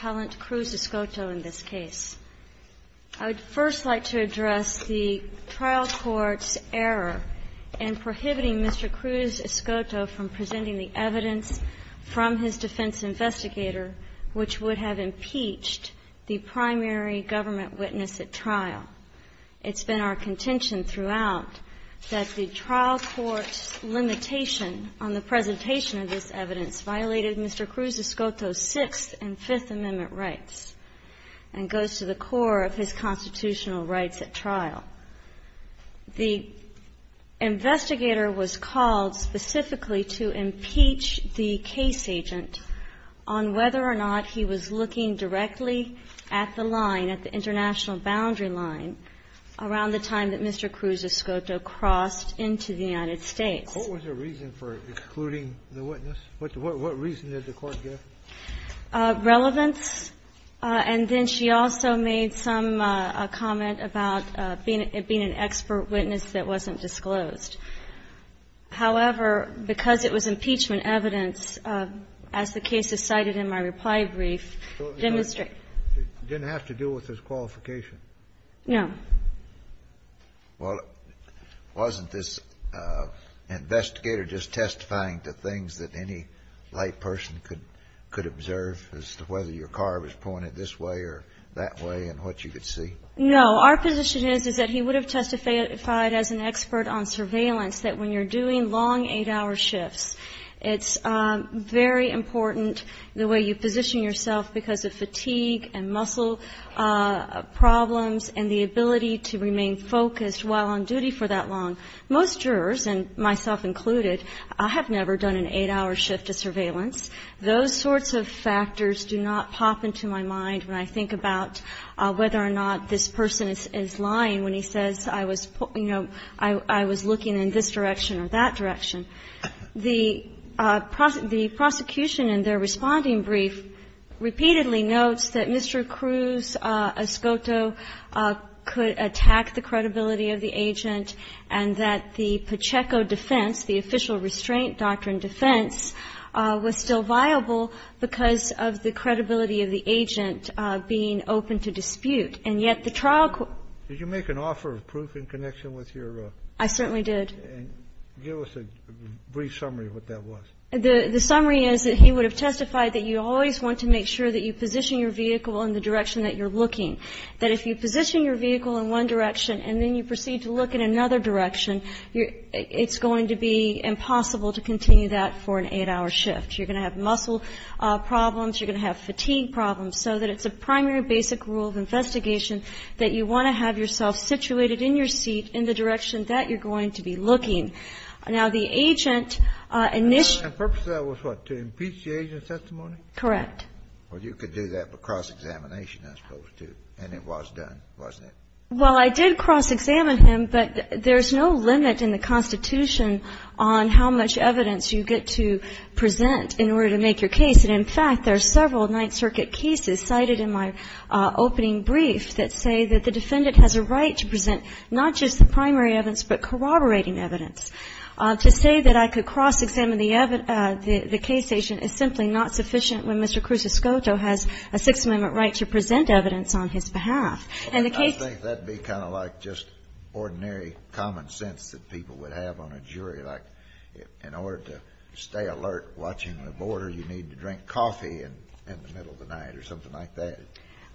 Cruz-Escoto in this case. I would first like to address the trial court's error in prohibiting Mr. Cruz-Escoto from presenting the evidence from his defense investigator, which would have impeached the primary government witness at trial. It's been our contention throughout that the trial court's limitation on the presentation of this evidence violated Mr. Cruz-Escoto's Sixth and Fifth Amendment rights and goes to the core of his constitutional rights at trial. The investigator was called specifically to impeach the case agent on whether or not he was looking directly at the line, at the international boundary line, around the time that Mr. Cruz-Escoto crossed into the United States. What was the reason for excluding the witness? What reason did the court give? Relevance, and then she also made some comment about being an expert witness that wasn't disclosed. However, because it was impeachment evidence, as the case is cited in my reply brief, demonstrate ---- So it didn't have to do with his qualification? No. Well, wasn't this investigator just testifying to things that any light person could observe as to whether your car was pointed this way or that way and what you could see? No. Our position is, is that he would have testified as an expert on surveillance, that when you're doing long 8-hour shifts, it's very important the way you position yourself because of fatigue and muscle problems and the ability to remain focused while on duty for that long. Most jurors, and myself included, have never done an 8-hour shift of surveillance. Those sorts of factors do not pop into my mind when I think about whether or not this person is lying when he says, you know, I was looking in this direction or that direction. The prosecution in their responding brief repeatedly notes that Mr. Cruz-Escoto could attack the credibility of the agent and that the Pacheco defense, the official restraint doctrine defense, was still viable because of the credibility of the agent being open to dispute, and yet the trial court ---- Did you make an offer of proof in connection with your ---- Brief summary of what that was. The summary is that he would have testified that you always want to make sure that you position your vehicle in the direction that you're looking, that if you position your vehicle in one direction and then you proceed to look in another direction, you're ---- it's going to be impossible to continue that for an 8-hour shift. You're going to have muscle problems. You're going to have fatigue problems. So that it's a primary basic rule of investigation that you want to have yourself situated in your seat in the direction that you're going to be looking. Now, the agent initially ---- The purpose of that was what? To impeach the agent's testimony? Correct. Well, you could do that, but cross-examination, I suppose, too. And it was done, wasn't it? Well, I did cross-examine him, but there's no limit in the Constitution on how much evidence you get to present in order to make your case. And, in fact, there are several Ninth Circuit cases cited in my opening brief that say that the defendant has a right to present not just the primary evidence but corroborating evidence. To say that I could cross-examine the case agent is simply not sufficient when Mr. Cruz-Escoto has a Sixth Amendment right to present evidence on his behalf. And the case ---- I think that would be kind of like just ordinary common sense that people would have on a jury, like in order to stay alert watching the border, you need to drink coffee in the middle of the night or something like that.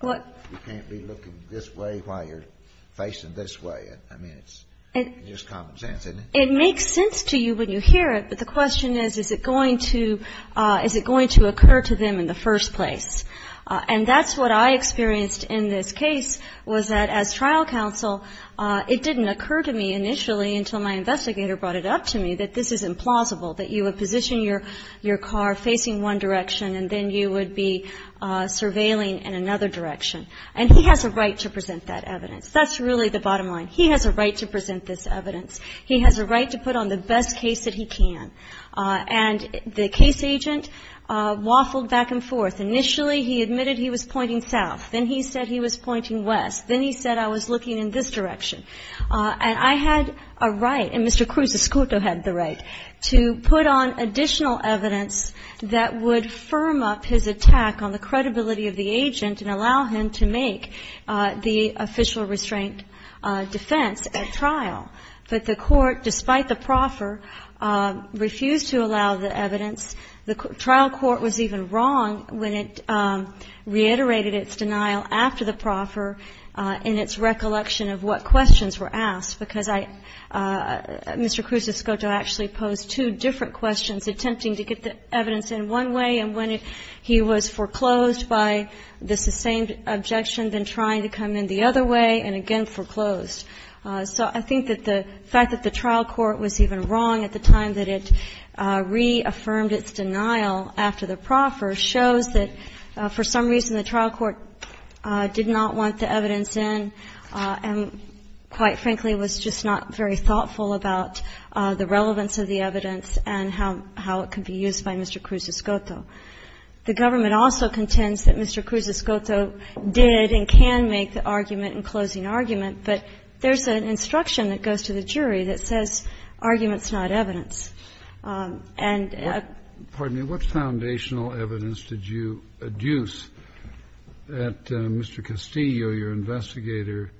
You can't be looking this way while you're facing this way. I mean, it's just common sense, isn't it? It makes sense to you when you hear it, but the question is, is it going to occur to them in the first place? And that's what I experienced in this case, was that as trial counsel, it didn't occur to me initially until my investigator brought it up to me that this is implausible, that you would position your car facing one direction and then you would be surveilling in another direction, and he has a right to present that evidence. That's really the bottom line. He has a right to present this evidence. He has a right to put on the best case that he can. And the case agent waffled back and forth. Initially, he admitted he was pointing south. Then he said he was pointing west. Then he said I was looking in this direction. And I had a right, and Mr. Cruz-Escoto had the right, to put on additional evidence that would firm up his attack on the credibility of the agent and allow him to make the official restraint defense at trial. But the Court, despite the proffer, refused to allow the evidence. The trial court was even wrong when it reiterated its denial after the proffer in its recollection of what questions were asked, because I – Mr. Cruz-Escoto actually posed two different questions, attempting to get the evidence in one way and when he was foreclosed by the sustained objection, then trying to come in the other way and again foreclosed. So I think that the fact that the trial court was even wrong at the time that it reaffirmed its denial after the proffer shows that for some reason the trial court did not want the evidence in and, quite frankly, was just not very thoughtful about the relevance of the evidence and how – how it could be used by Mr. Cruz-Escoto. The government also contends that Mr. Cruz-Escoto did and can make the argument in closing argument, but there's an instruction that goes to the jury that says argument's not evidence. Kennedy. I have a question about Mr. Cruz-Escoto. Did you ask him whether your investigator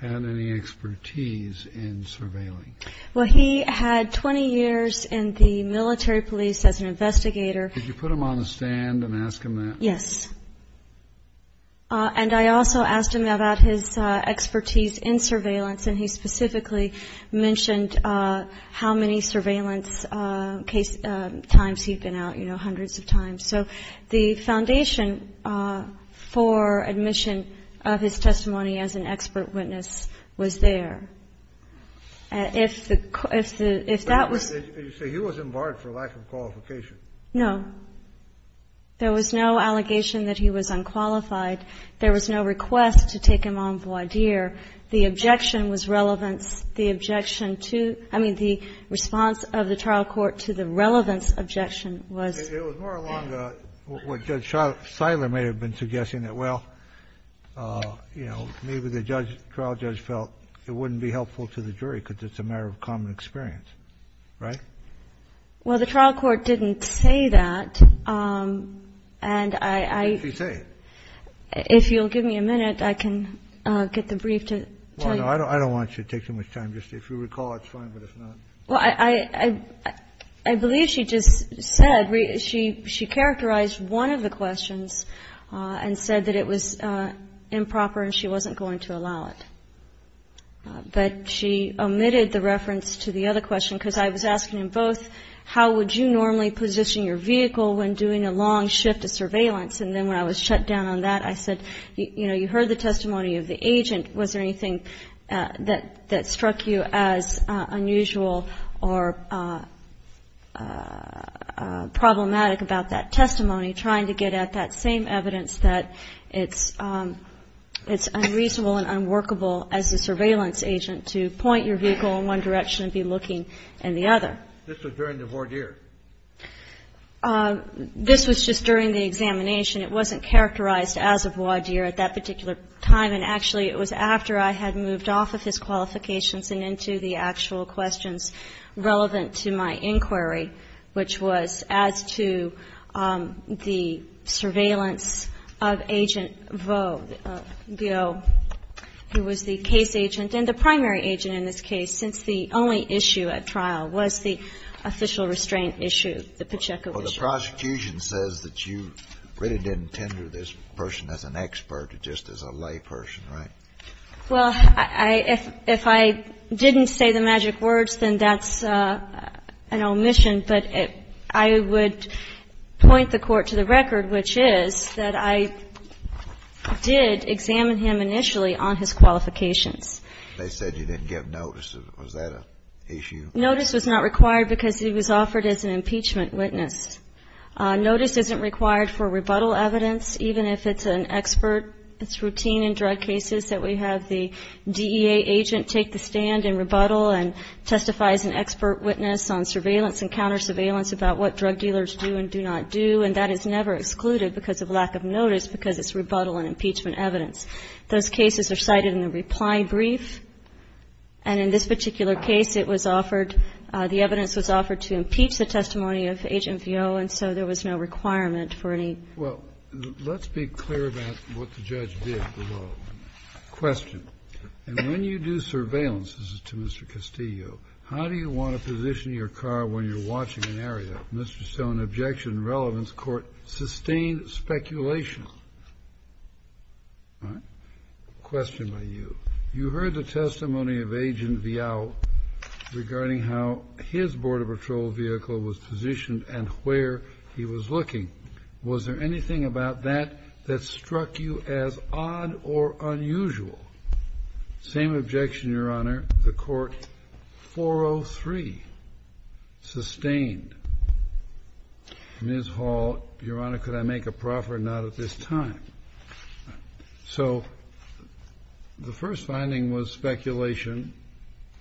had any expertise in surveilling? Well, he had 20 years in the military police as an investigator. Could you put him on the stand and ask him that? Yes. And I also asked him about his expertise in surveillance, and he specifically mentioned how many surveillance case – times he'd been out, you know, hundreds of times. So the foundation for admission of his testimony as an expert witness was there. If the – if that was – So he wasn't barred for lack of qualification? No. There was no allegation that he was unqualified. There was no request to take him on voir dire. The objection was relevance. The objection to – I mean, the response of the trial court to the relevance objection was – It was more along the – what Judge Seiler may have been suggesting, that, well, you know, maybe the judge – trial judge felt it wouldn't be helpful to the jury because it's a matter of common experience, right? Well, the trial court didn't say that. And I – What did she say? If you'll give me a minute, I can get the brief to tell you. Well, no. I don't want you to take too much time. Just if you recall, it's fine, but if not. Well, I – I believe she just said – she characterized one of the questions and said that it was improper and she wasn't going to allow it. But she omitted the reference to the other question because I was asking him both how would you normally position your vehicle when doing a long shift of surveillance and then when I was shut down on that, I said, you know, you heard the testimony of the agent. Was there anything that struck you as unusual or problematic about that testimony, trying to get at that same evidence that it's unreasonable and unworkable as a surveillance agent to point your vehicle in one direction and be looking in the other? This was during the voir dire. This was just during the examination. It wasn't characterized as a voir dire at that particular time, and actually it was after I had moved off of his qualifications and into the actual questions relevant to my inquiry, which was as to the surveillance of Agent Vo, who was the case agent and the primary agent in this case, since the only issue at trial was the official restraint issue, the Pacheco issue. Well, the prosecution says that you really didn't tender this person as an expert, just as a layperson, right? Well, if I didn't say the magic words, then that's an omission. But I would point the Court to the record, which is that I did examine him initially on his qualifications. They said you didn't give notice. Was that an issue? Notice was not required because he was offered as an impeachment witness. Notice isn't required for rebuttal evidence, even if it's an expert. It's routine in drug cases that we have the DEA agent take the stand and rebuttal and testify as an expert witness on surveillance and counter-surveillance about what drug dealers do and do not do, and that is never excluded because of lack of notice because it's rebuttal and impeachment evidence. Those cases are cited in the reply brief. And in this particular case, it was offered, the evidence was offered to impeach the testimony of HMVO, and so there was no requirement for any. Well, let's be clear about what the judge did. Question. When you do surveillance, this is to Mr. Castillo, how do you want to position your car when you're watching an area? Mr. Stone, objection, relevance, court, sustained speculation. All right. Question by you. You heard the testimony of Agent Viao regarding how his Border Patrol vehicle was positioned and where he was looking. Was there anything about that that struck you as odd or unusual? Same objection, Your Honor. The court, 403, sustained. Ms. Hall, Your Honor, could I make a proffer? Not at this time. So the first finding was speculation,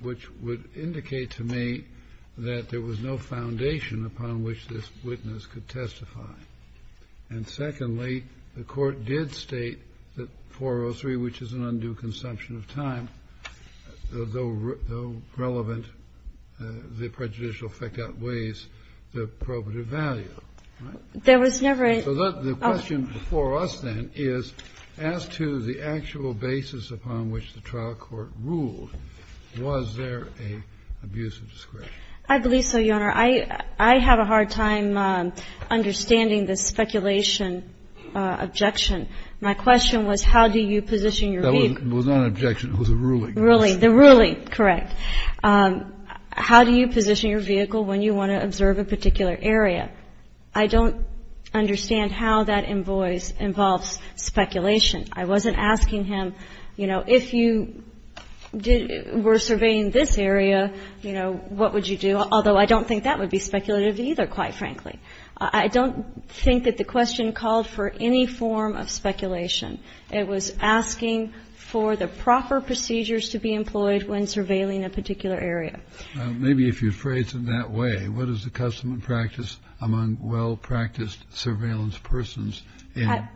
which would indicate to me that there was no foundation upon which this witness could testify. And secondly, the court did state that 403, which is an undue consumption of time, though relevant, the prejudicial effect outweighs the probative value, right? There was never a ---- So the question for us then is, as to the actual basis upon which the trial court ruled, was there an abuse of discretion? I believe so, Your Honor. I have a hard time understanding the speculation objection. My question was, how do you position your vehicle? That was not an objection. It was a ruling. The ruling, correct. How do you position your vehicle when you want to observe a particular area? I don't understand how that invoice involves speculation. I wasn't asking him, you know, if you were surveying this area, you know, what would you do, although I don't think that would be speculative either, quite frankly. I don't think that the question called for any form of speculation. It was asking for the proper procedures to be employed when surveilling a particular area. Maybe if you phrase it that way, what is the custom and practice among well-practiced surveillance persons in a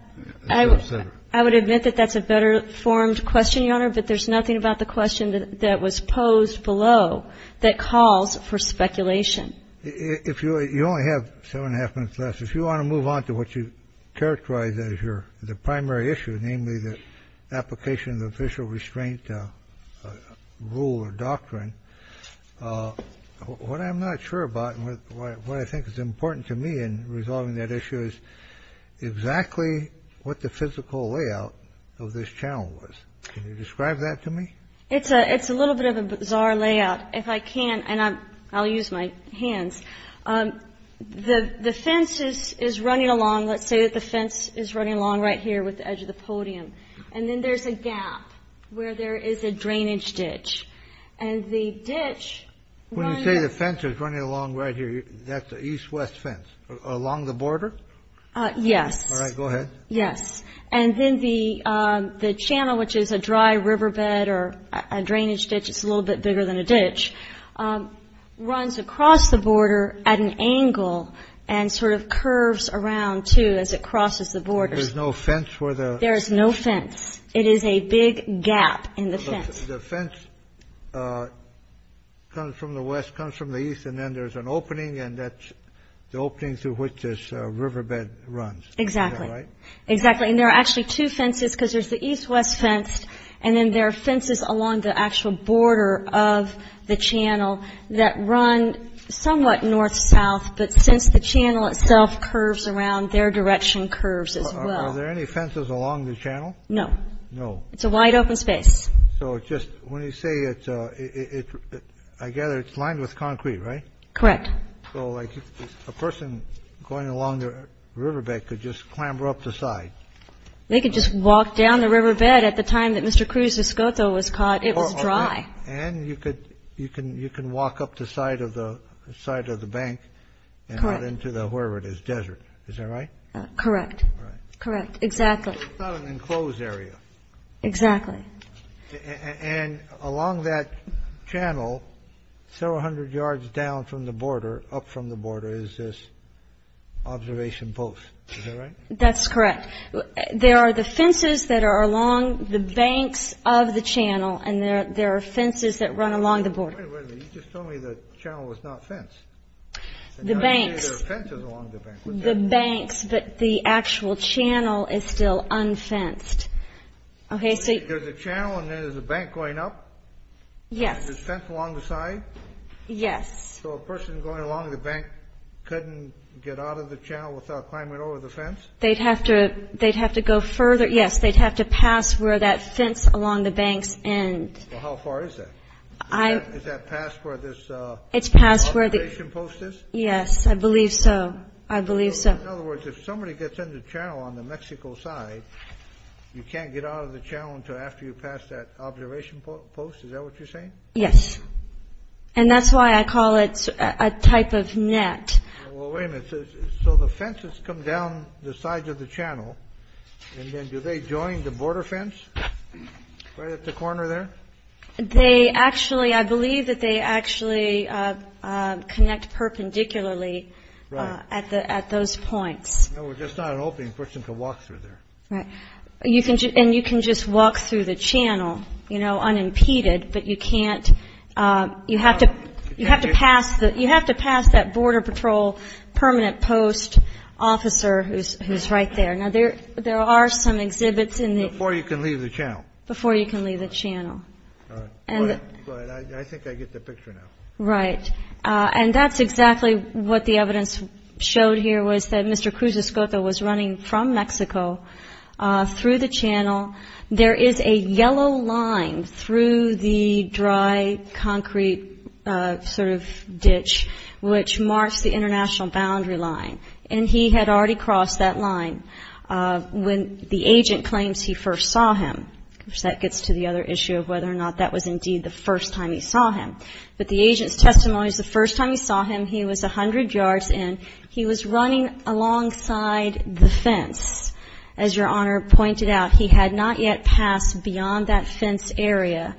self-centered I would admit that that's a better formed question, Your Honor, but there's nothing about the question that was posed below that calls for speculation. If you only have seven and a half minutes left, If you want to move on to what you characterize as your the primary issue, namely the application of the official restraint rule or doctrine, what I'm not sure about and what I think is important to me in resolving that issue is exactly what the physical layout of this channel was. Can you describe that to me? It's a it's a little bit of a bizarre layout if I can. And I'll use my hands. The fence is running along. Let's say that the fence is running along right here with the edge of the podium. And then there's a gap where there is a drainage ditch and the ditch. When you say the fence is running along right here, that's the east west fence along the border. Yes. Go ahead. Yes. And then the the channel, which is a dry riverbed or a drainage ditch, it's a little bit bigger than a ditch, runs across the border at an angle and sort of curves around to as it crosses the border. There's no fence where there is no fence. It is a big gap in the fence. The fence comes from the west, comes from the east. And then there's an opening and that's the opening through which this riverbed runs. Exactly. Exactly. And there are actually two fences because there's the east west fence. And then there are fences along the actual border of the channel that run somewhat north south. But since the channel itself curves around, their direction curves as well. Are there any fences along the channel? No. No. It's a wide open space. So just when you say it, I gather it's lined with concrete, right? Correct. So like a person going along the riverbed could just clamber up the side. They could just walk down the riverbed. At the time that Mr. Cruz Escoto was caught, it was dry. And you can walk up the side of the bank and out into wherever it is, desert. Is that right? Correct. Correct. Exactly. It's not an enclosed area. Exactly. And along that channel, several hundred yards down from the border, up from the border, is this observation post. Is that right? That's correct. There are the fences that are along the banks of the channel. And there are fences that run along the border. Wait a minute. You just told me the channel was not fenced. The banks. There are fences along the banks. The banks, but the actual channel is still unfenced. Okay, so you- There's a channel and then there's a bank going up? Yes. And there's a fence along the side? Yes. So a person going along the bank couldn't get out of the channel without climbing over the fence? They'd have to go further. Yes, they'd have to pass where that fence along the banks ends. Well, how far is that? Is that passed where this observation post is? Yes, I believe so. I believe so. In other words, if somebody gets in the channel on the Mexico side, you can't get out of the channel until after you pass that observation post? Is that what you're saying? Yes. And that's why I call it a type of net. Well, wait a minute. So the fences come down the sides of the channel, and then do they join the border fence right at the corner there? They actually, I believe that they actually connect perpendicularly at those points. No, we're just not hoping for someone to walk through there. Right. And you can just walk through the channel, you know, unimpeded, but you can't – you have to pass that Border Patrol permanent post officer who's right there. Now, there are some exhibits in the – Before you can leave the channel. Before you can leave the channel. Go ahead. I think I get the picture now. Right. And that's exactly what the evidence showed here was that Mr. Cruz-Escota was running from Mexico through the channel. There is a yellow line through the dry concrete sort of ditch which marks the international boundary line, and he had already crossed that line when the agent claims he first saw him. That gets to the other issue of whether or not that was indeed the first time he saw him. But the agent's testimony is the first time he saw him he was 100 yards in. He was running alongside the fence. As Your Honor pointed out, he had not yet passed beyond that fence area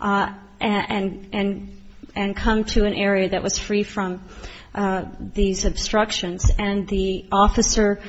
and come to an area that was free from these obstructions. And the officer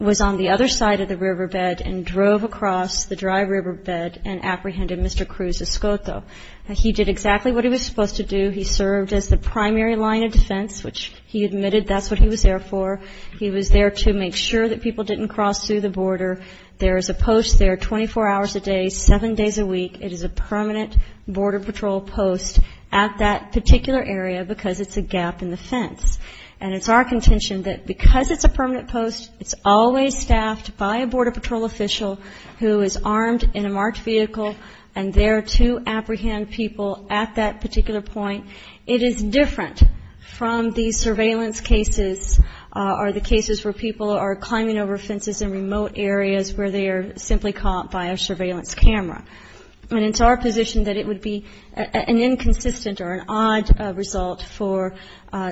was on the other side of the riverbed and drove across the dry riverbed and apprehended Mr. Cruz-Escota. He did exactly what he was supposed to do. He served as the primary line of defense, which he admitted that's what he was there for. He was there to make sure that people didn't cross through the border. There is a post there 24 hours a day, seven days a week. It is a permanent Border Patrol post at that particular area because it's a gap in the fence. And it's our contention that because it's a permanent post, it's always staffed by a Border Patrol official who is armed in a marked vehicle and there to apprehend people at that particular point. It is different from the surveillance cases or the cases where people are climbing over fences in remote areas where they are simply caught by a surveillance camera. And it's our position that it would be an inconsistent or an odd result for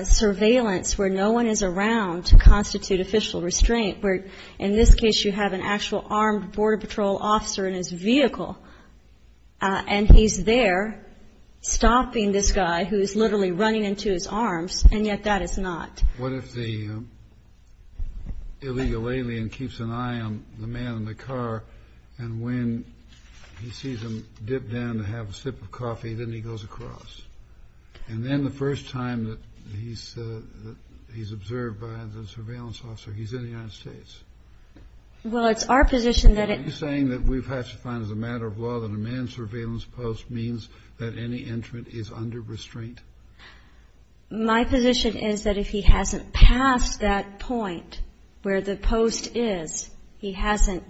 surveillance where no one is around to constitute official restraint, where in this case you have an actual armed Border Patrol officer in his vehicle and he's there stopping this guy who is literally running into his arms, and yet that is not. What if the illegal alien keeps an eye on the man in the car and when he sees him dip down to have a sip of coffee, then he goes across? And then the first time that he's observed by the surveillance officer, he's in the United States? Well, it's our position that it's. Are you saying that we've had to find as a matter of law that a manned surveillance post means that any entrant is under restraint? My position is that if he hasn't passed that point where the post is, he hasn't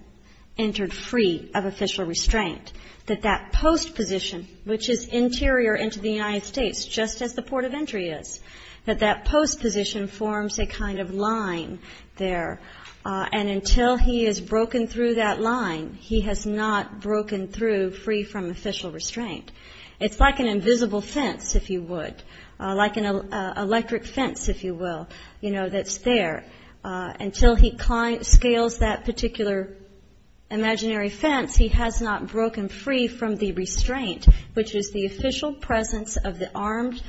entered free of official restraint, that that post position, which is interior into the United States just as the port of entry is, that that post position forms a kind of line there. And until he is broken through that line, he has not broken through free from official restraint. It's like an invisible fence, if you would, like an electric fence, if you will, you know, that's there. Until he scales that particular imaginary fence, he has not broken free from the restraint, which is the official presence of the armed,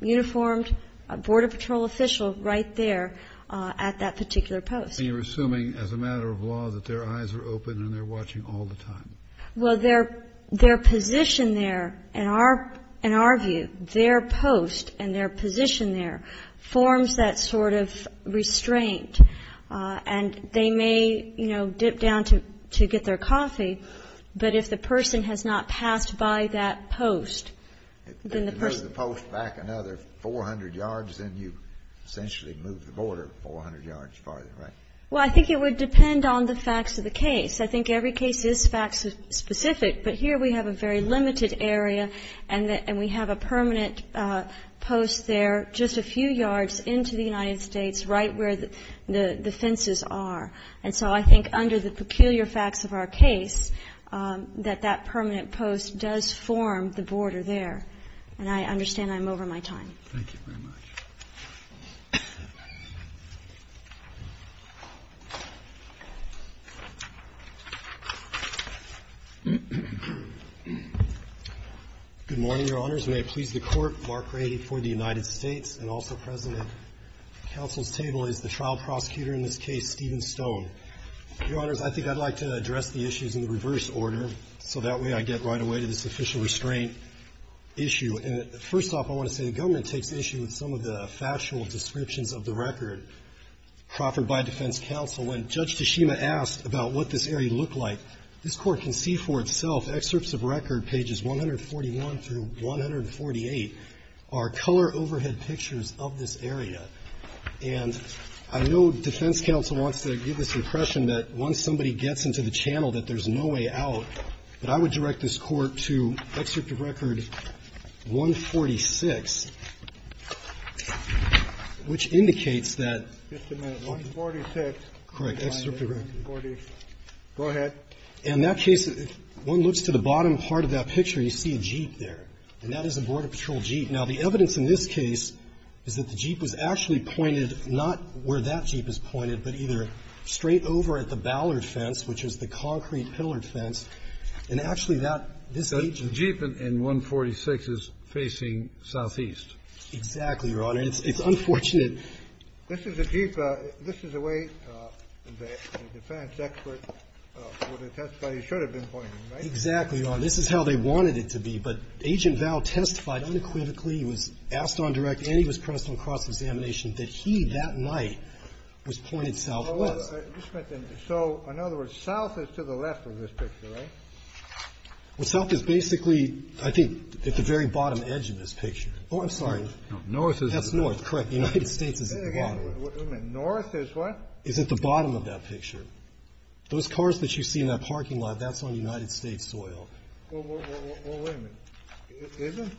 uniformed Border Patrol official right there at that particular post. And you're assuming as a matter of law that their eyes are open and they're watching all the time? Well, their position there, in our view, their post and their position there forms that sort of restraint. And they may, you know, dip down to get their coffee, but if the person has not passed by that post, then the person — If you move the post back another 400 yards, then you essentially move the border 400 yards farther, right? Well, I think it would depend on the facts of the case. I think every case is fact-specific, but here we have a very limited area and we have a permanent post there just a few yards into the United States right where the fences are. And so I think under the peculiar facts of our case that that permanent post does form the border there. And I understand I'm over my time. Thank you very much. Good morning, Your Honors. May it please the Court, Mark Grady for the United States and also present at counsel's table is the trial prosecutor in this case, Stephen Stone. Your Honors, I think I'd like to address the issues in the reverse order so that way I get right away to this official restraint issue. And first off, I want to say the government takes issue with some of the factual descriptions of the record proffered by defense counsel. When Judge Tashima asked about what this area looked like, this Court can see for itself excerpts of record, pages 141 through 148, are color overhead pictures of this area. And I know defense counsel wants to give this impression that once somebody gets into the channel that there's no way out, but I would direct this Court to excerpt of record 146, which indicates that ---- Just a minute. 146. Correct. Go ahead. In that case, if one looks to the bottom part of that picture, you see a jeep there, and that is a Border Patrol jeep. Now, the evidence in this case is that the jeep was actually pointed not where that fence, which is the concrete-pillared fence, and actually that ---- The jeep in 146 is facing southeast. Exactly, Your Honor. It's unfortunate. This is a jeep. This is the way the defense expert would have testified he should have been pointing, right? Exactly, Your Honor. This is how they wanted it to be. But Agent Val testified unequivocally. He was asked on direct and he was pressed on cross-examination that he, that night, was pointed southwest. So, in other words, south is to the left of this picture, right? Well, south is basically, I think, at the very bottom edge of this picture. Oh, I'm sorry. That's north, correct. United States is at the bottom. North is what? Is at the bottom of that picture. Those cars that you see in that parking lot, that's on United States soil. Well, wait a minute. Isn't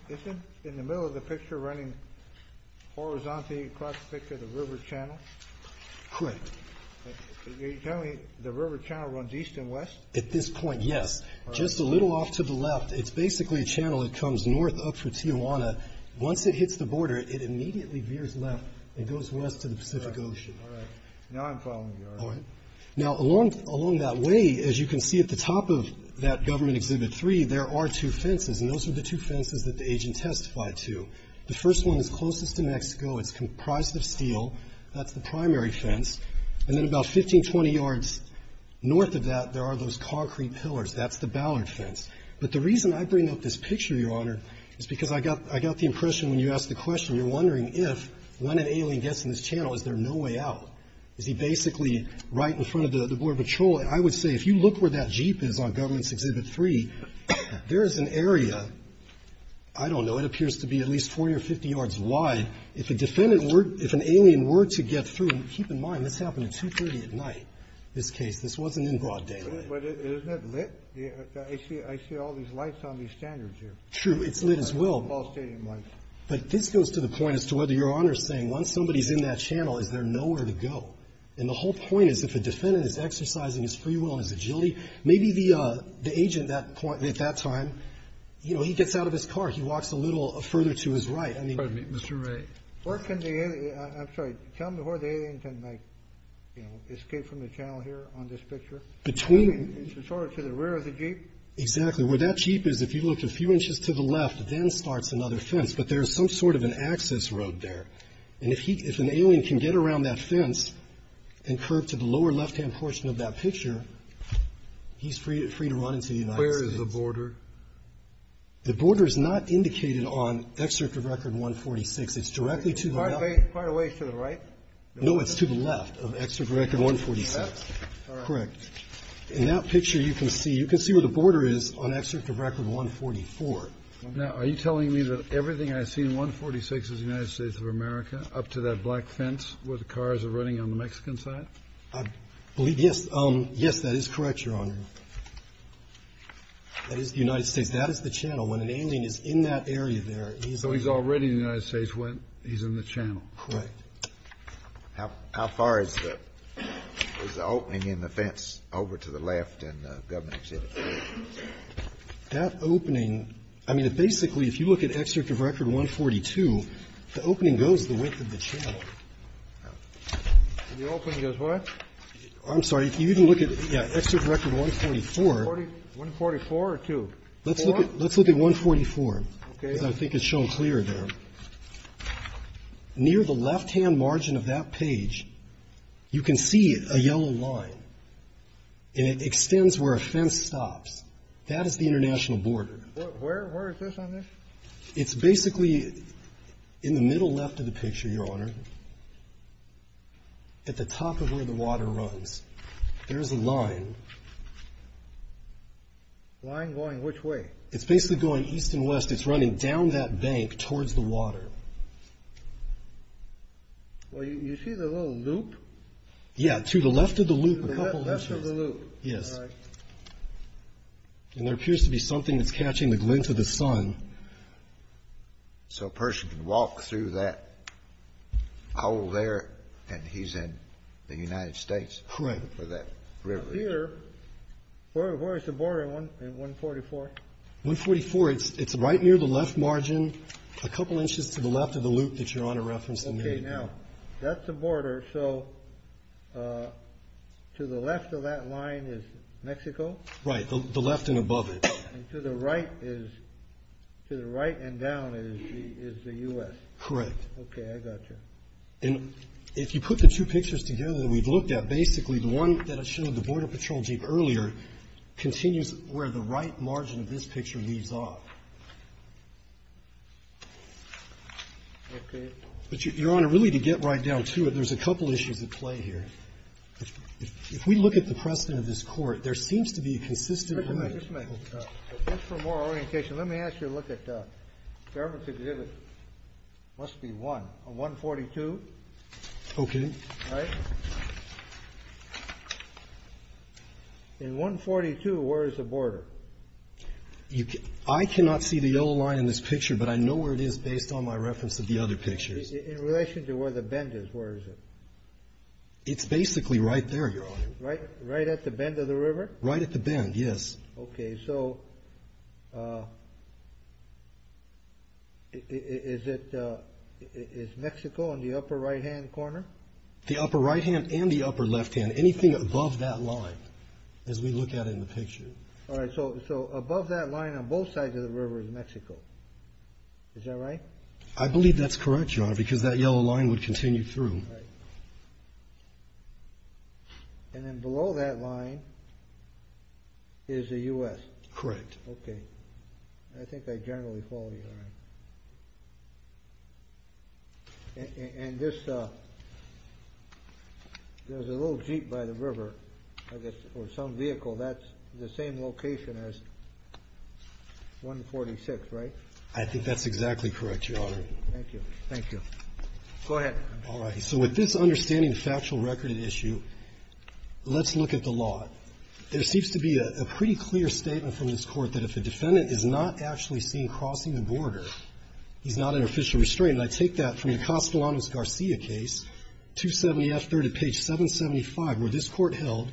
in the middle of the picture running horizontally across the picture the river channel? Correct. Are you telling me the river channel runs east and west? At this point, yes. Just a little off to the left. It's basically a channel that comes north up for Tijuana. Once it hits the border, it immediately veers left and goes west to the Pacific Ocean. All right. Now I'm following you, Your Honor. All right. Now, along that way, as you can see at the top of that government exhibit three, there are two fences. And those are the two fences that the agent testified to. The first one is closest to Mexico. It's comprised of steel. That's the primary fence. And then about 15, 20 yards north of that, there are those concrete pillars. That's the Ballard fence. But the reason I bring up this picture, Your Honor, is because I got the impression when you asked the question, you're wondering if, when an alien gets in this channel, is there no way out? Is he basically right in front of the border patrol? I would say if you look where that Jeep is on government's exhibit three, there is an area, I don't know, it appears to be at least 40 or 50 yards wide. If a defendant were, if an alien were to get through, keep in mind, this happened at 2.30 at night, this case. This wasn't in broad daylight. But isn't it lit? I see all these lights on these standards here. True. It's lit as well. Ball stadium lights. But this goes to the point as to whether Your Honor is saying once somebody is in that channel, is there nowhere to go? And the whole point is if a defendant is exercising his free will and his agility, maybe the agent at that point, at that time, you know, he gets out of his car. He walks a little further to his right. Pardon me, Mr. Ray. Where can the alien, I'm sorry, tell me where the alien can, you know, escape from the channel here on this picture? Between. Sort of to the rear of the Jeep? Exactly. Where that Jeep is, if you look a few inches to the left, then starts another fence. But there is some sort of an access road there. And if an alien can get around that fence and curve to the lower left-hand portion of that picture, he's free to run into the United States. Where is the border? The border is not indicated on Excerpt of Record 146. It's directly to the left. It's quite a ways to the right? No, it's to the left of Excerpt of Record 146. All right. Correct. In that picture, you can see where the border is on Excerpt of Record 144. Now, are you telling me that everything I see in 146 is the United States of America up to that black fence where the cars are running on the Mexican side? I believe, yes. Yes, that is correct, Your Honor. That is the United States. That is the channel. When an alien is in that area there, he's already in the United States when he's in the channel. Correct. How far is the opening in the fence over to the left in Governing City? That opening, I mean, basically, if you look at Excerpt of Record 142, the opening goes the width of the channel. The opening goes what? I'm sorry. If you even look at Excerpt of Record 144. 144 or 2? Let's look at 144. Okay. Because I think it's shown clearer there. Near the left-hand margin of that page, you can see a yellow line, and it extends where a fence stops. That is the international border. Where is this on this? It's basically in the middle left of the picture, Your Honor, at the top of where the water runs. There is a line. Line going which way? It's basically going east and west. It's running down that bank towards the water. Well, you see the little loop? Yeah, to the left of the loop a couple inches. Left of the loop. Yes. All right. And there appears to be something that's catching the glint of the sun. So a person can walk through that hole there, and he's in the United States. Correct. Where that river is. Here, where is the border in 144? 144, it's right near the left margin a couple inches to the left of the loop that Your Honor referenced a minute ago. Okay. Now, that's the border, so to the left of that line is Mexico? Right. The left and above it. And to the right is, to the right and down is the U.S.? Correct. Okay. I got you. And if you put the two pictures together that we've looked at, basically the one that I showed, the Border Patrol Jeep earlier, continues where the right margin of this picture leaves off. Okay. But Your Honor, really to get right down to it, there's a couple issues at play here. If we look at the precedent of this Court, there seems to be a consistent limit. Just a minute. Just for more orientation, let me ask you to look at the government's exhibit. It must be one. 142. Okay. Right? In 142, where is the border? I cannot see the yellow line in this picture, but I know where it is based on my reference of the other pictures. In relation to where the bend is, where is it? It's basically right there, Your Honor. Right at the bend of the river? Right at the bend, yes. Okay. So is Mexico in the upper right-hand corner? The upper right-hand and the upper left-hand, anything above that line as we look at it in the picture. All right. So above that line on both sides of the river is Mexico. Is that right? I believe that's correct, Your Honor, because that yellow line would continue through. Right. And then below that line is the U.S.? Correct. Okay. I think I generally followed you on that. And this, there's a little jeep by the river, I guess, or some vehicle. That's the same location as 146, right? I think that's exactly correct, Your Honor. Thank you. Thank you. Go ahead. All right. So with this understanding of factual record and issue, let's look at the law. There seems to be a pretty clear statement from this Court that if a defendant is not actually seen crossing the border, he's not under official restraint. And I take that from the Castellanos-Garcia case, 270F, third at page 775, where this Court held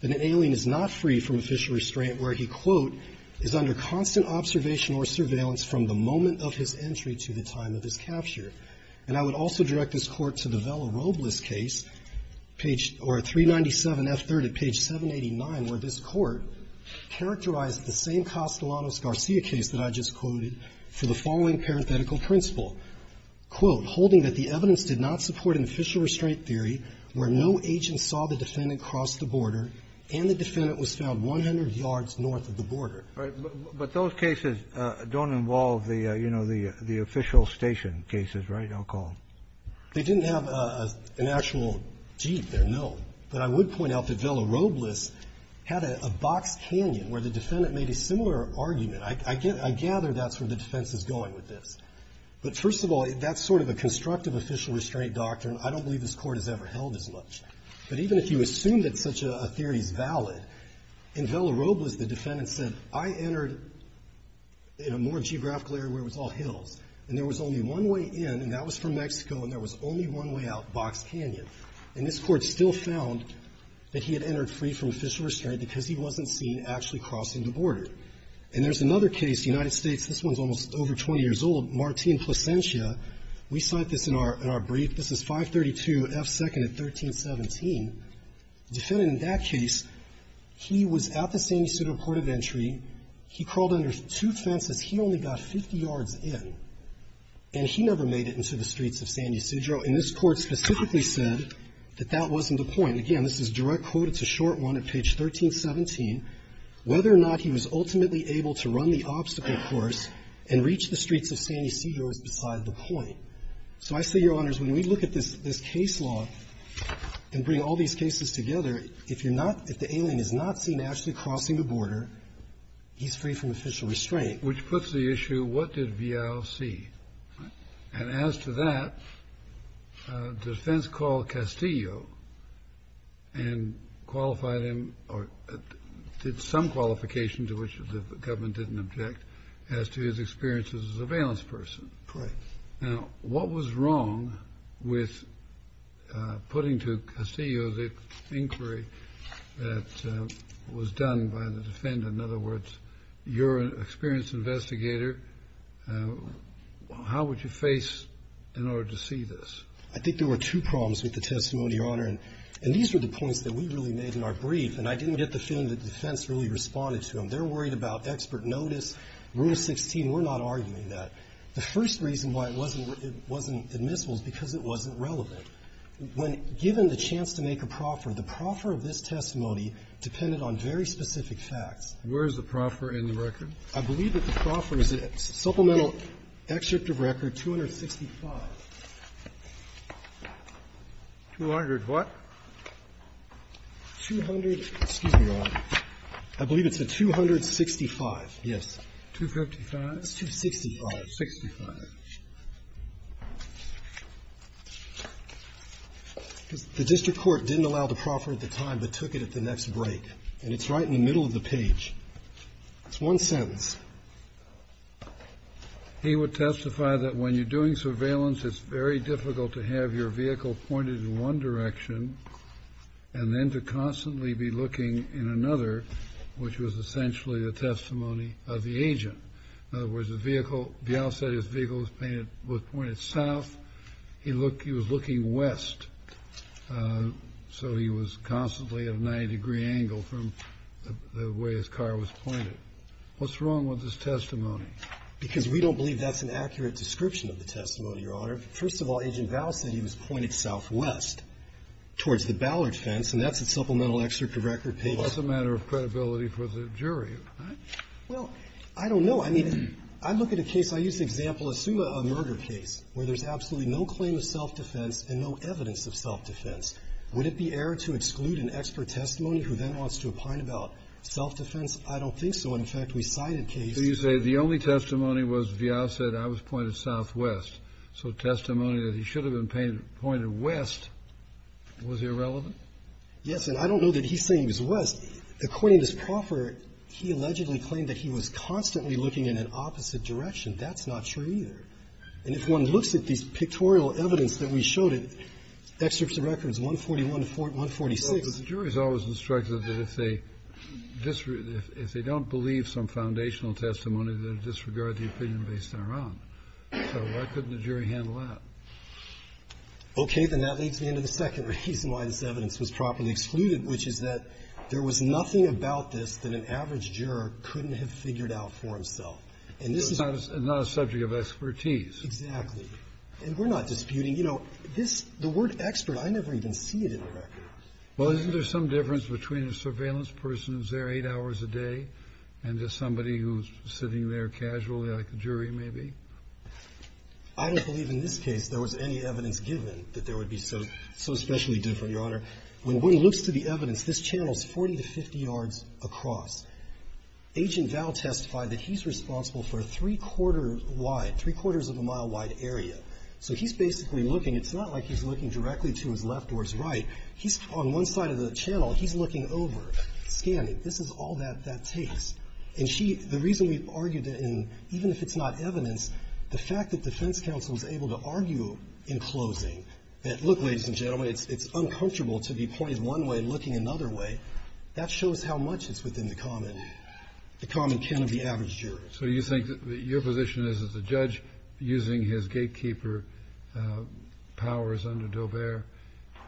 that an alien is not free from official restraint, where he, quote, is under constant observation or surveillance from the moment of his entry to the time of his capture. And I would also direct this Court to the Vela-Robles case, page, or 397F, third at page 789, where this Court characterized the same Castellanos-Garcia case that I just quoted for the following parenthetical principle, quote, holding that the evidence did not support an official restraint theory where no agent saw the defendant cross the border and the defendant was found 100 yards north of the border. But those cases don't involve the, you know, the official station cases, right? I'll call them. They didn't have an actual jeep there, no. But I would point out that Vela-Robles had a box canyon where the defendant made a similar argument. I gather that's where the defense is going with this. But first of all, that's sort of a constructive official restraint doctrine. I don't believe this Court has ever held as much. But even if you assume that such a theory is valid, in Vela-Robles, the defendant said, I entered in a more geographical area where it was all hills, and there was only one way in, and that was from Mexico, and there was only one way out, box canyon. And this Court still found that he had entered free from official restraint because he wasn't seen actually crossing the border. And there's another case, United States, this one's almost over 20 years old, Martín Placencia. We cite this in our brief. This is 532F2nd at 1317. The defendant in that case, he was at the San Ysidro port of entry. He crawled under two fences. He only got 50 yards in. And he never made it into the streets of San Ysidro. And this Court specifically said that that wasn't the point. Again, this is direct quote. It's a short one at page 1317. Whether or not he was ultimately able to run the obstacle course and reach the streets of San Ysidro is beside the point. So I say, Your Honors, when we look at this case law and bring all these cases together, if you're not, if the alien is not seen actually crossing the border, he's free from official restraint. Kennedy. Which puts the issue, what did Villal see? And as to that, defense called Castillo and qualified him or did some qualification to which the government didn't object as to his experience as a surveillance person. Correct. Now, what was wrong with putting to Castillo the inquiry that was done by the defendant? In other words, you're an experienced investigator. How would you face in order to see this? I think there were two problems with the testimony, Your Honor. And these were the points that we really made in our brief. And I didn't get the feeling that the defense really responded to them. They're worried about expert notice. Rule 16, we're not arguing that. The first reason why it wasn't admissible is because it wasn't relevant. When given the chance to make a proffer, the proffer of this testimony depended on very specific facts. Where is the proffer in the record? I believe that the proffer is in Supplemental Excerpt of Record 265. 200 what? 200, excuse me, Your Honor. I believe it's the 265, yes. 255? It's 265. The district court didn't allow the proffer at the time but took it at the next break. And it's right in the middle of the page. It's one sentence. He would testify that when you're doing surveillance, it's very difficult to have your vehicle pointed in one direction and then to constantly be looking in another, which was essentially a testimony of the agent. In other words, the vehicle, Bial said his vehicle was pointed south. He was looking west. So he was constantly at a 90-degree angle from the way his car was pointed. What's wrong with this testimony? Because we don't believe that's an accurate description of the testimony, Your Honor. First of all, Agent Bial said he was pointed southwest towards the Ballard fence, and that's in Supplemental Excerpt of Record page. Well, that's a matter of credibility for the jury, right? Well, I don't know. I mean, I look at a case. I use the example, assume a murder case where there's absolutely no claim of self-defense and no evidence of self-defense. Would it be error to exclude an expert testimony who then wants to opine about self-defense? I don't think so. And, in fact, we cited cases of that. So you say the only testimony was Bial said I was pointed southwest. So testimony that he should have been pointed west was irrelevant? Yes. And I don't know that he's saying he was west. According to this proffer, he allegedly claimed that he was constantly looking in an opposite direction. That's not true either. And if one looks at these pictorial evidence that we showed in Excerpts of Records 141 to 146. Well, but the jury's always instructed that if they don't believe some foundational testimony, they'll disregard the opinion based on our own. So why couldn't the jury handle that? Okay. Then that leads me into the second reason why this evidence was properly excluded, which is that there was nothing about this that an average juror couldn't have figured out for himself. And this is not a subject of expertise. Exactly. And we're not disputing. You know, this the word expert, I never even see it in the record. Well, isn't there some difference between a surveillance person who's there eight hours a day and just somebody who's sitting there casually like the jury may be? I don't believe in this case there was any evidence given that there would be so especially different, Your Honor. When one looks to the evidence, this channel's 40 to 50 yards across. Agent Val testified that he's responsible for a three-quarter wide, three-quarters of a mile wide area. So he's basically looking. It's not like he's looking directly to his left or his right. He's on one side of the channel. He's looking over, scanning. This is all that that takes. And the reason we've argued that even if it's not evidence, the fact that defense counsel is able to argue in closing that, look, ladies and gentlemen, it's uncomfortable to be pointed one way and looking another way, that shows how much it's within the common, the common kin of the average juror. So you think that your position is that the judge, using his gatekeeper powers under Daubert,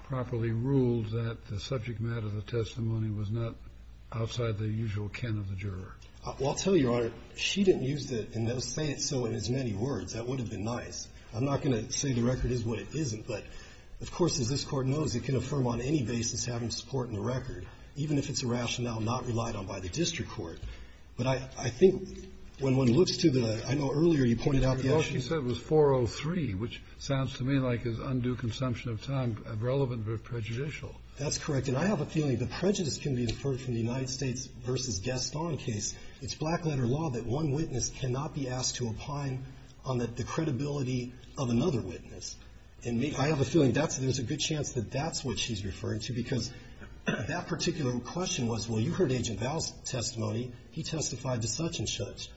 properly ruled that the subject matter of the testimony was not outside the usual kin of the juror? Well, I'll tell you, Your Honor, she didn't use the, say it so in as many words. That would have been nice. I'm not going to say the record is what it isn't, but of course, as this Court knows, it can affirm on any basis having support in the record, even if it's a rationale not relied on by the district court. But I think when one looks to the – I know earlier you pointed out the issue. Well, she said it was 403, which sounds to me like is undue consumption of time relevant but prejudicial. That's correct. And I have a feeling the prejudice can be inferred from the United States v. Gaston case. It's black-letter law that one witness cannot be asked to opine on the credibility of another witness. And I have a feeling there's a good chance that that's what she's referring to, because that particular question was, well, you heard Agent Val's testimony. He testified to such and such.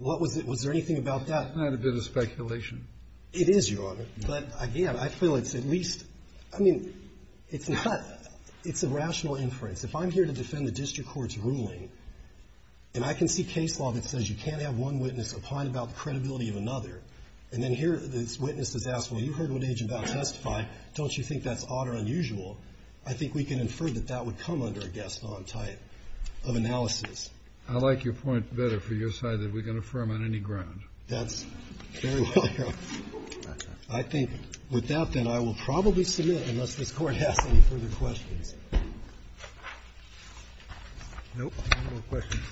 Was there anything about that? It's not a bit of speculation. It is, Your Honor. But again, I feel it's at least – I mean, it's not – it's a rational inference. If I'm here to defend the district court's ruling, and I can see case law that says you can't have one witness opine about the credibility of another, and then here this witness has asked, well, you heard what Agent Val testified. Don't you think that's odd or unusual? I think we can infer that that would come under a Gaston type of analysis. I like your point better for your side that we can affirm on any ground. That's very well, Your Honor. I think with that, then, I will probably submit unless this Court has any further questions. Nope. No more questions.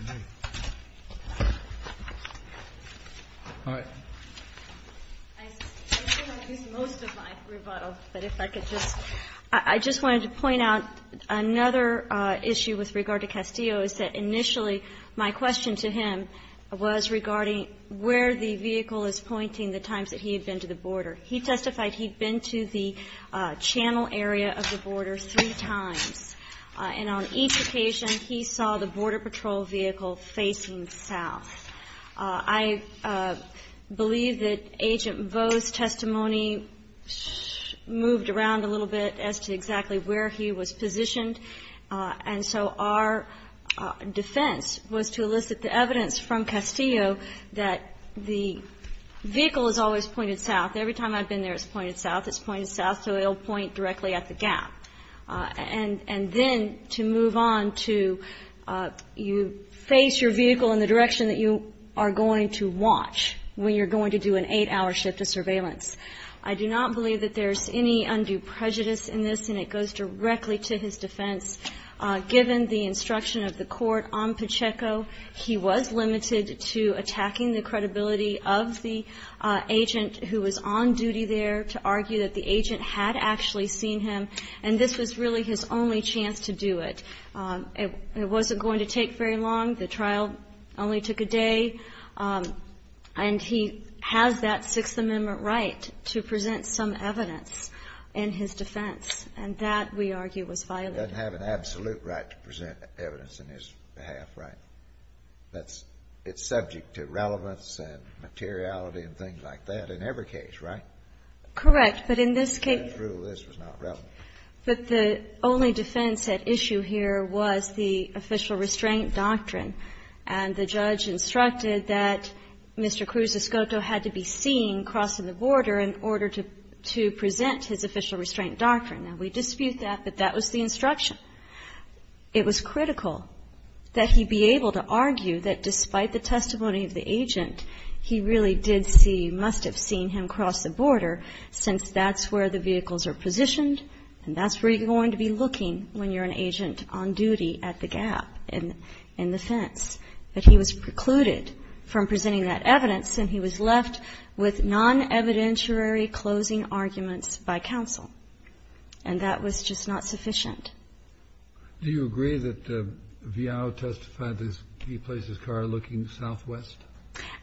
All right. I think I've used most of my rebuttal. But if I could just – I just wanted to point out another issue with regard to Castillo is that initially my question to him was regarding where the vehicle is pointing the times that he had been to the border. He testified he'd been to the channel area of the border three times. And on each occasion, he saw the Border Patrol vehicle facing south. I believe that Agent Vo's testimony moved around a little bit as to exactly where he was positioned. And so our defense was to elicit the evidence from Castillo that the vehicle is always pointed south. Every time I've been there, it's pointed south. It's pointed south, so it'll point directly at the gap. And then to move on to you face your vehicle in the direction that you are going to watch when you're going to do an eight-hour shift of surveillance. I do not believe that there's any undue prejudice in this, and it goes directly to his defense. Given the instruction of the Court on Pacheco, he was limited to attacking the credibility of the agent who was on duty there to argue that the agent had actually seen him. And this was really his only chance to do it. It wasn't going to take very long. The trial only took a day. And he has that Sixth Amendment right to present some evidence in his defense. And that, we argue, was violated. He doesn't have an absolute right to present evidence in his behalf, right? It's subject to relevance and materiality and things like that in every case, right? Correct. But in this case the only defense at issue here was the official restraint doctrine. And the judge instructed that Mr. Cruz-Escoto had to be seen crossing the border in order to present his official restraint doctrine. Now, we dispute that, but that was the instruction. It was critical that he be able to argue that despite the testimony of the agent, he really did see, must have seen him cross the border since that's where the vehicles are positioned, and that's where you're going to be looking when you're an agent on duty at the gap in the fence. But he was precluded from presenting that evidence, and he was left with non-evidentiary closing arguments by counsel. And that was just not sufficient. Do you agree that Viao testified that he placed his car looking southwest?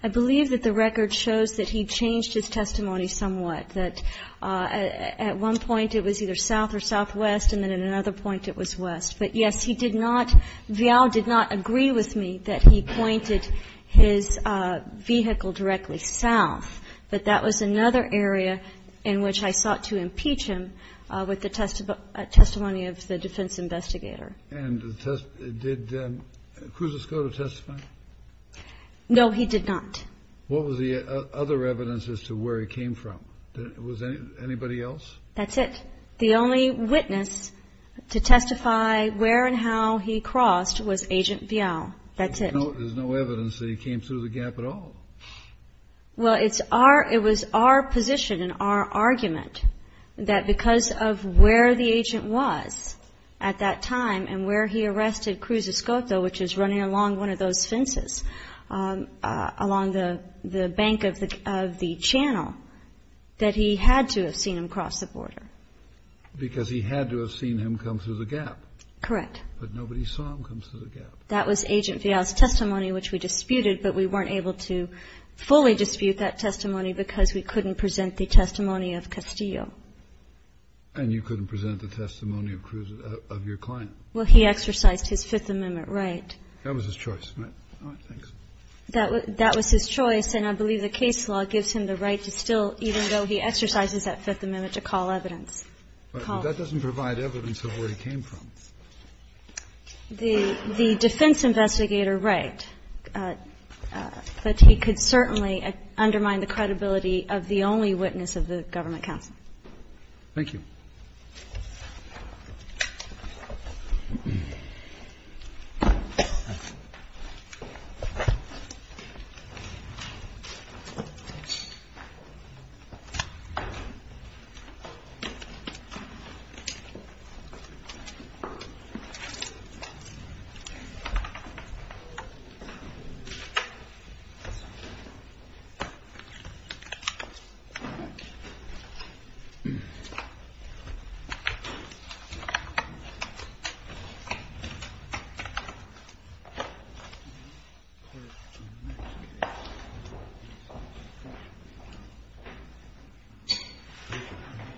I believe that the record shows that he changed his testimony somewhat. That at one point it was either south or southwest, and then at another point it was west. But, yes, he did not, Viao did not agree with me that he pointed his vehicle directly south, but that was another area in which I sought to impeach him with the testimony of the defense investigator. And did Cruz-Escoto testify? No, he did not. What was the other evidence as to where he came from? Was there anybody else? That's it. The only witness to testify where and how he crossed was Agent Viao. That's it. There's no evidence that he came through the gap at all. Well, it was our position and our argument that because of where the agent was at that point, that he had to have seen him cross the border. Because he had to have seen him come through the gap. Correct. But nobody saw him come through the gap. That was Agent Viao's testimony, which we disputed, but we weren't able to fully dispute that testimony because we couldn't present the testimony of Castillo. And you couldn't present the testimony of Cruz, of your client. Well, he exercised his Fifth Amendment right. That was his choice. All right. Thanks. That was his choice. And I believe the case law gives him the right to still, even though he exercises that Fifth Amendment, to call evidence. But that doesn't provide evidence of where he came from. The defense investigator, right. But he could certainly undermine the credibility of the only witness of the government counsel. Thank you. Thank you. Thank you.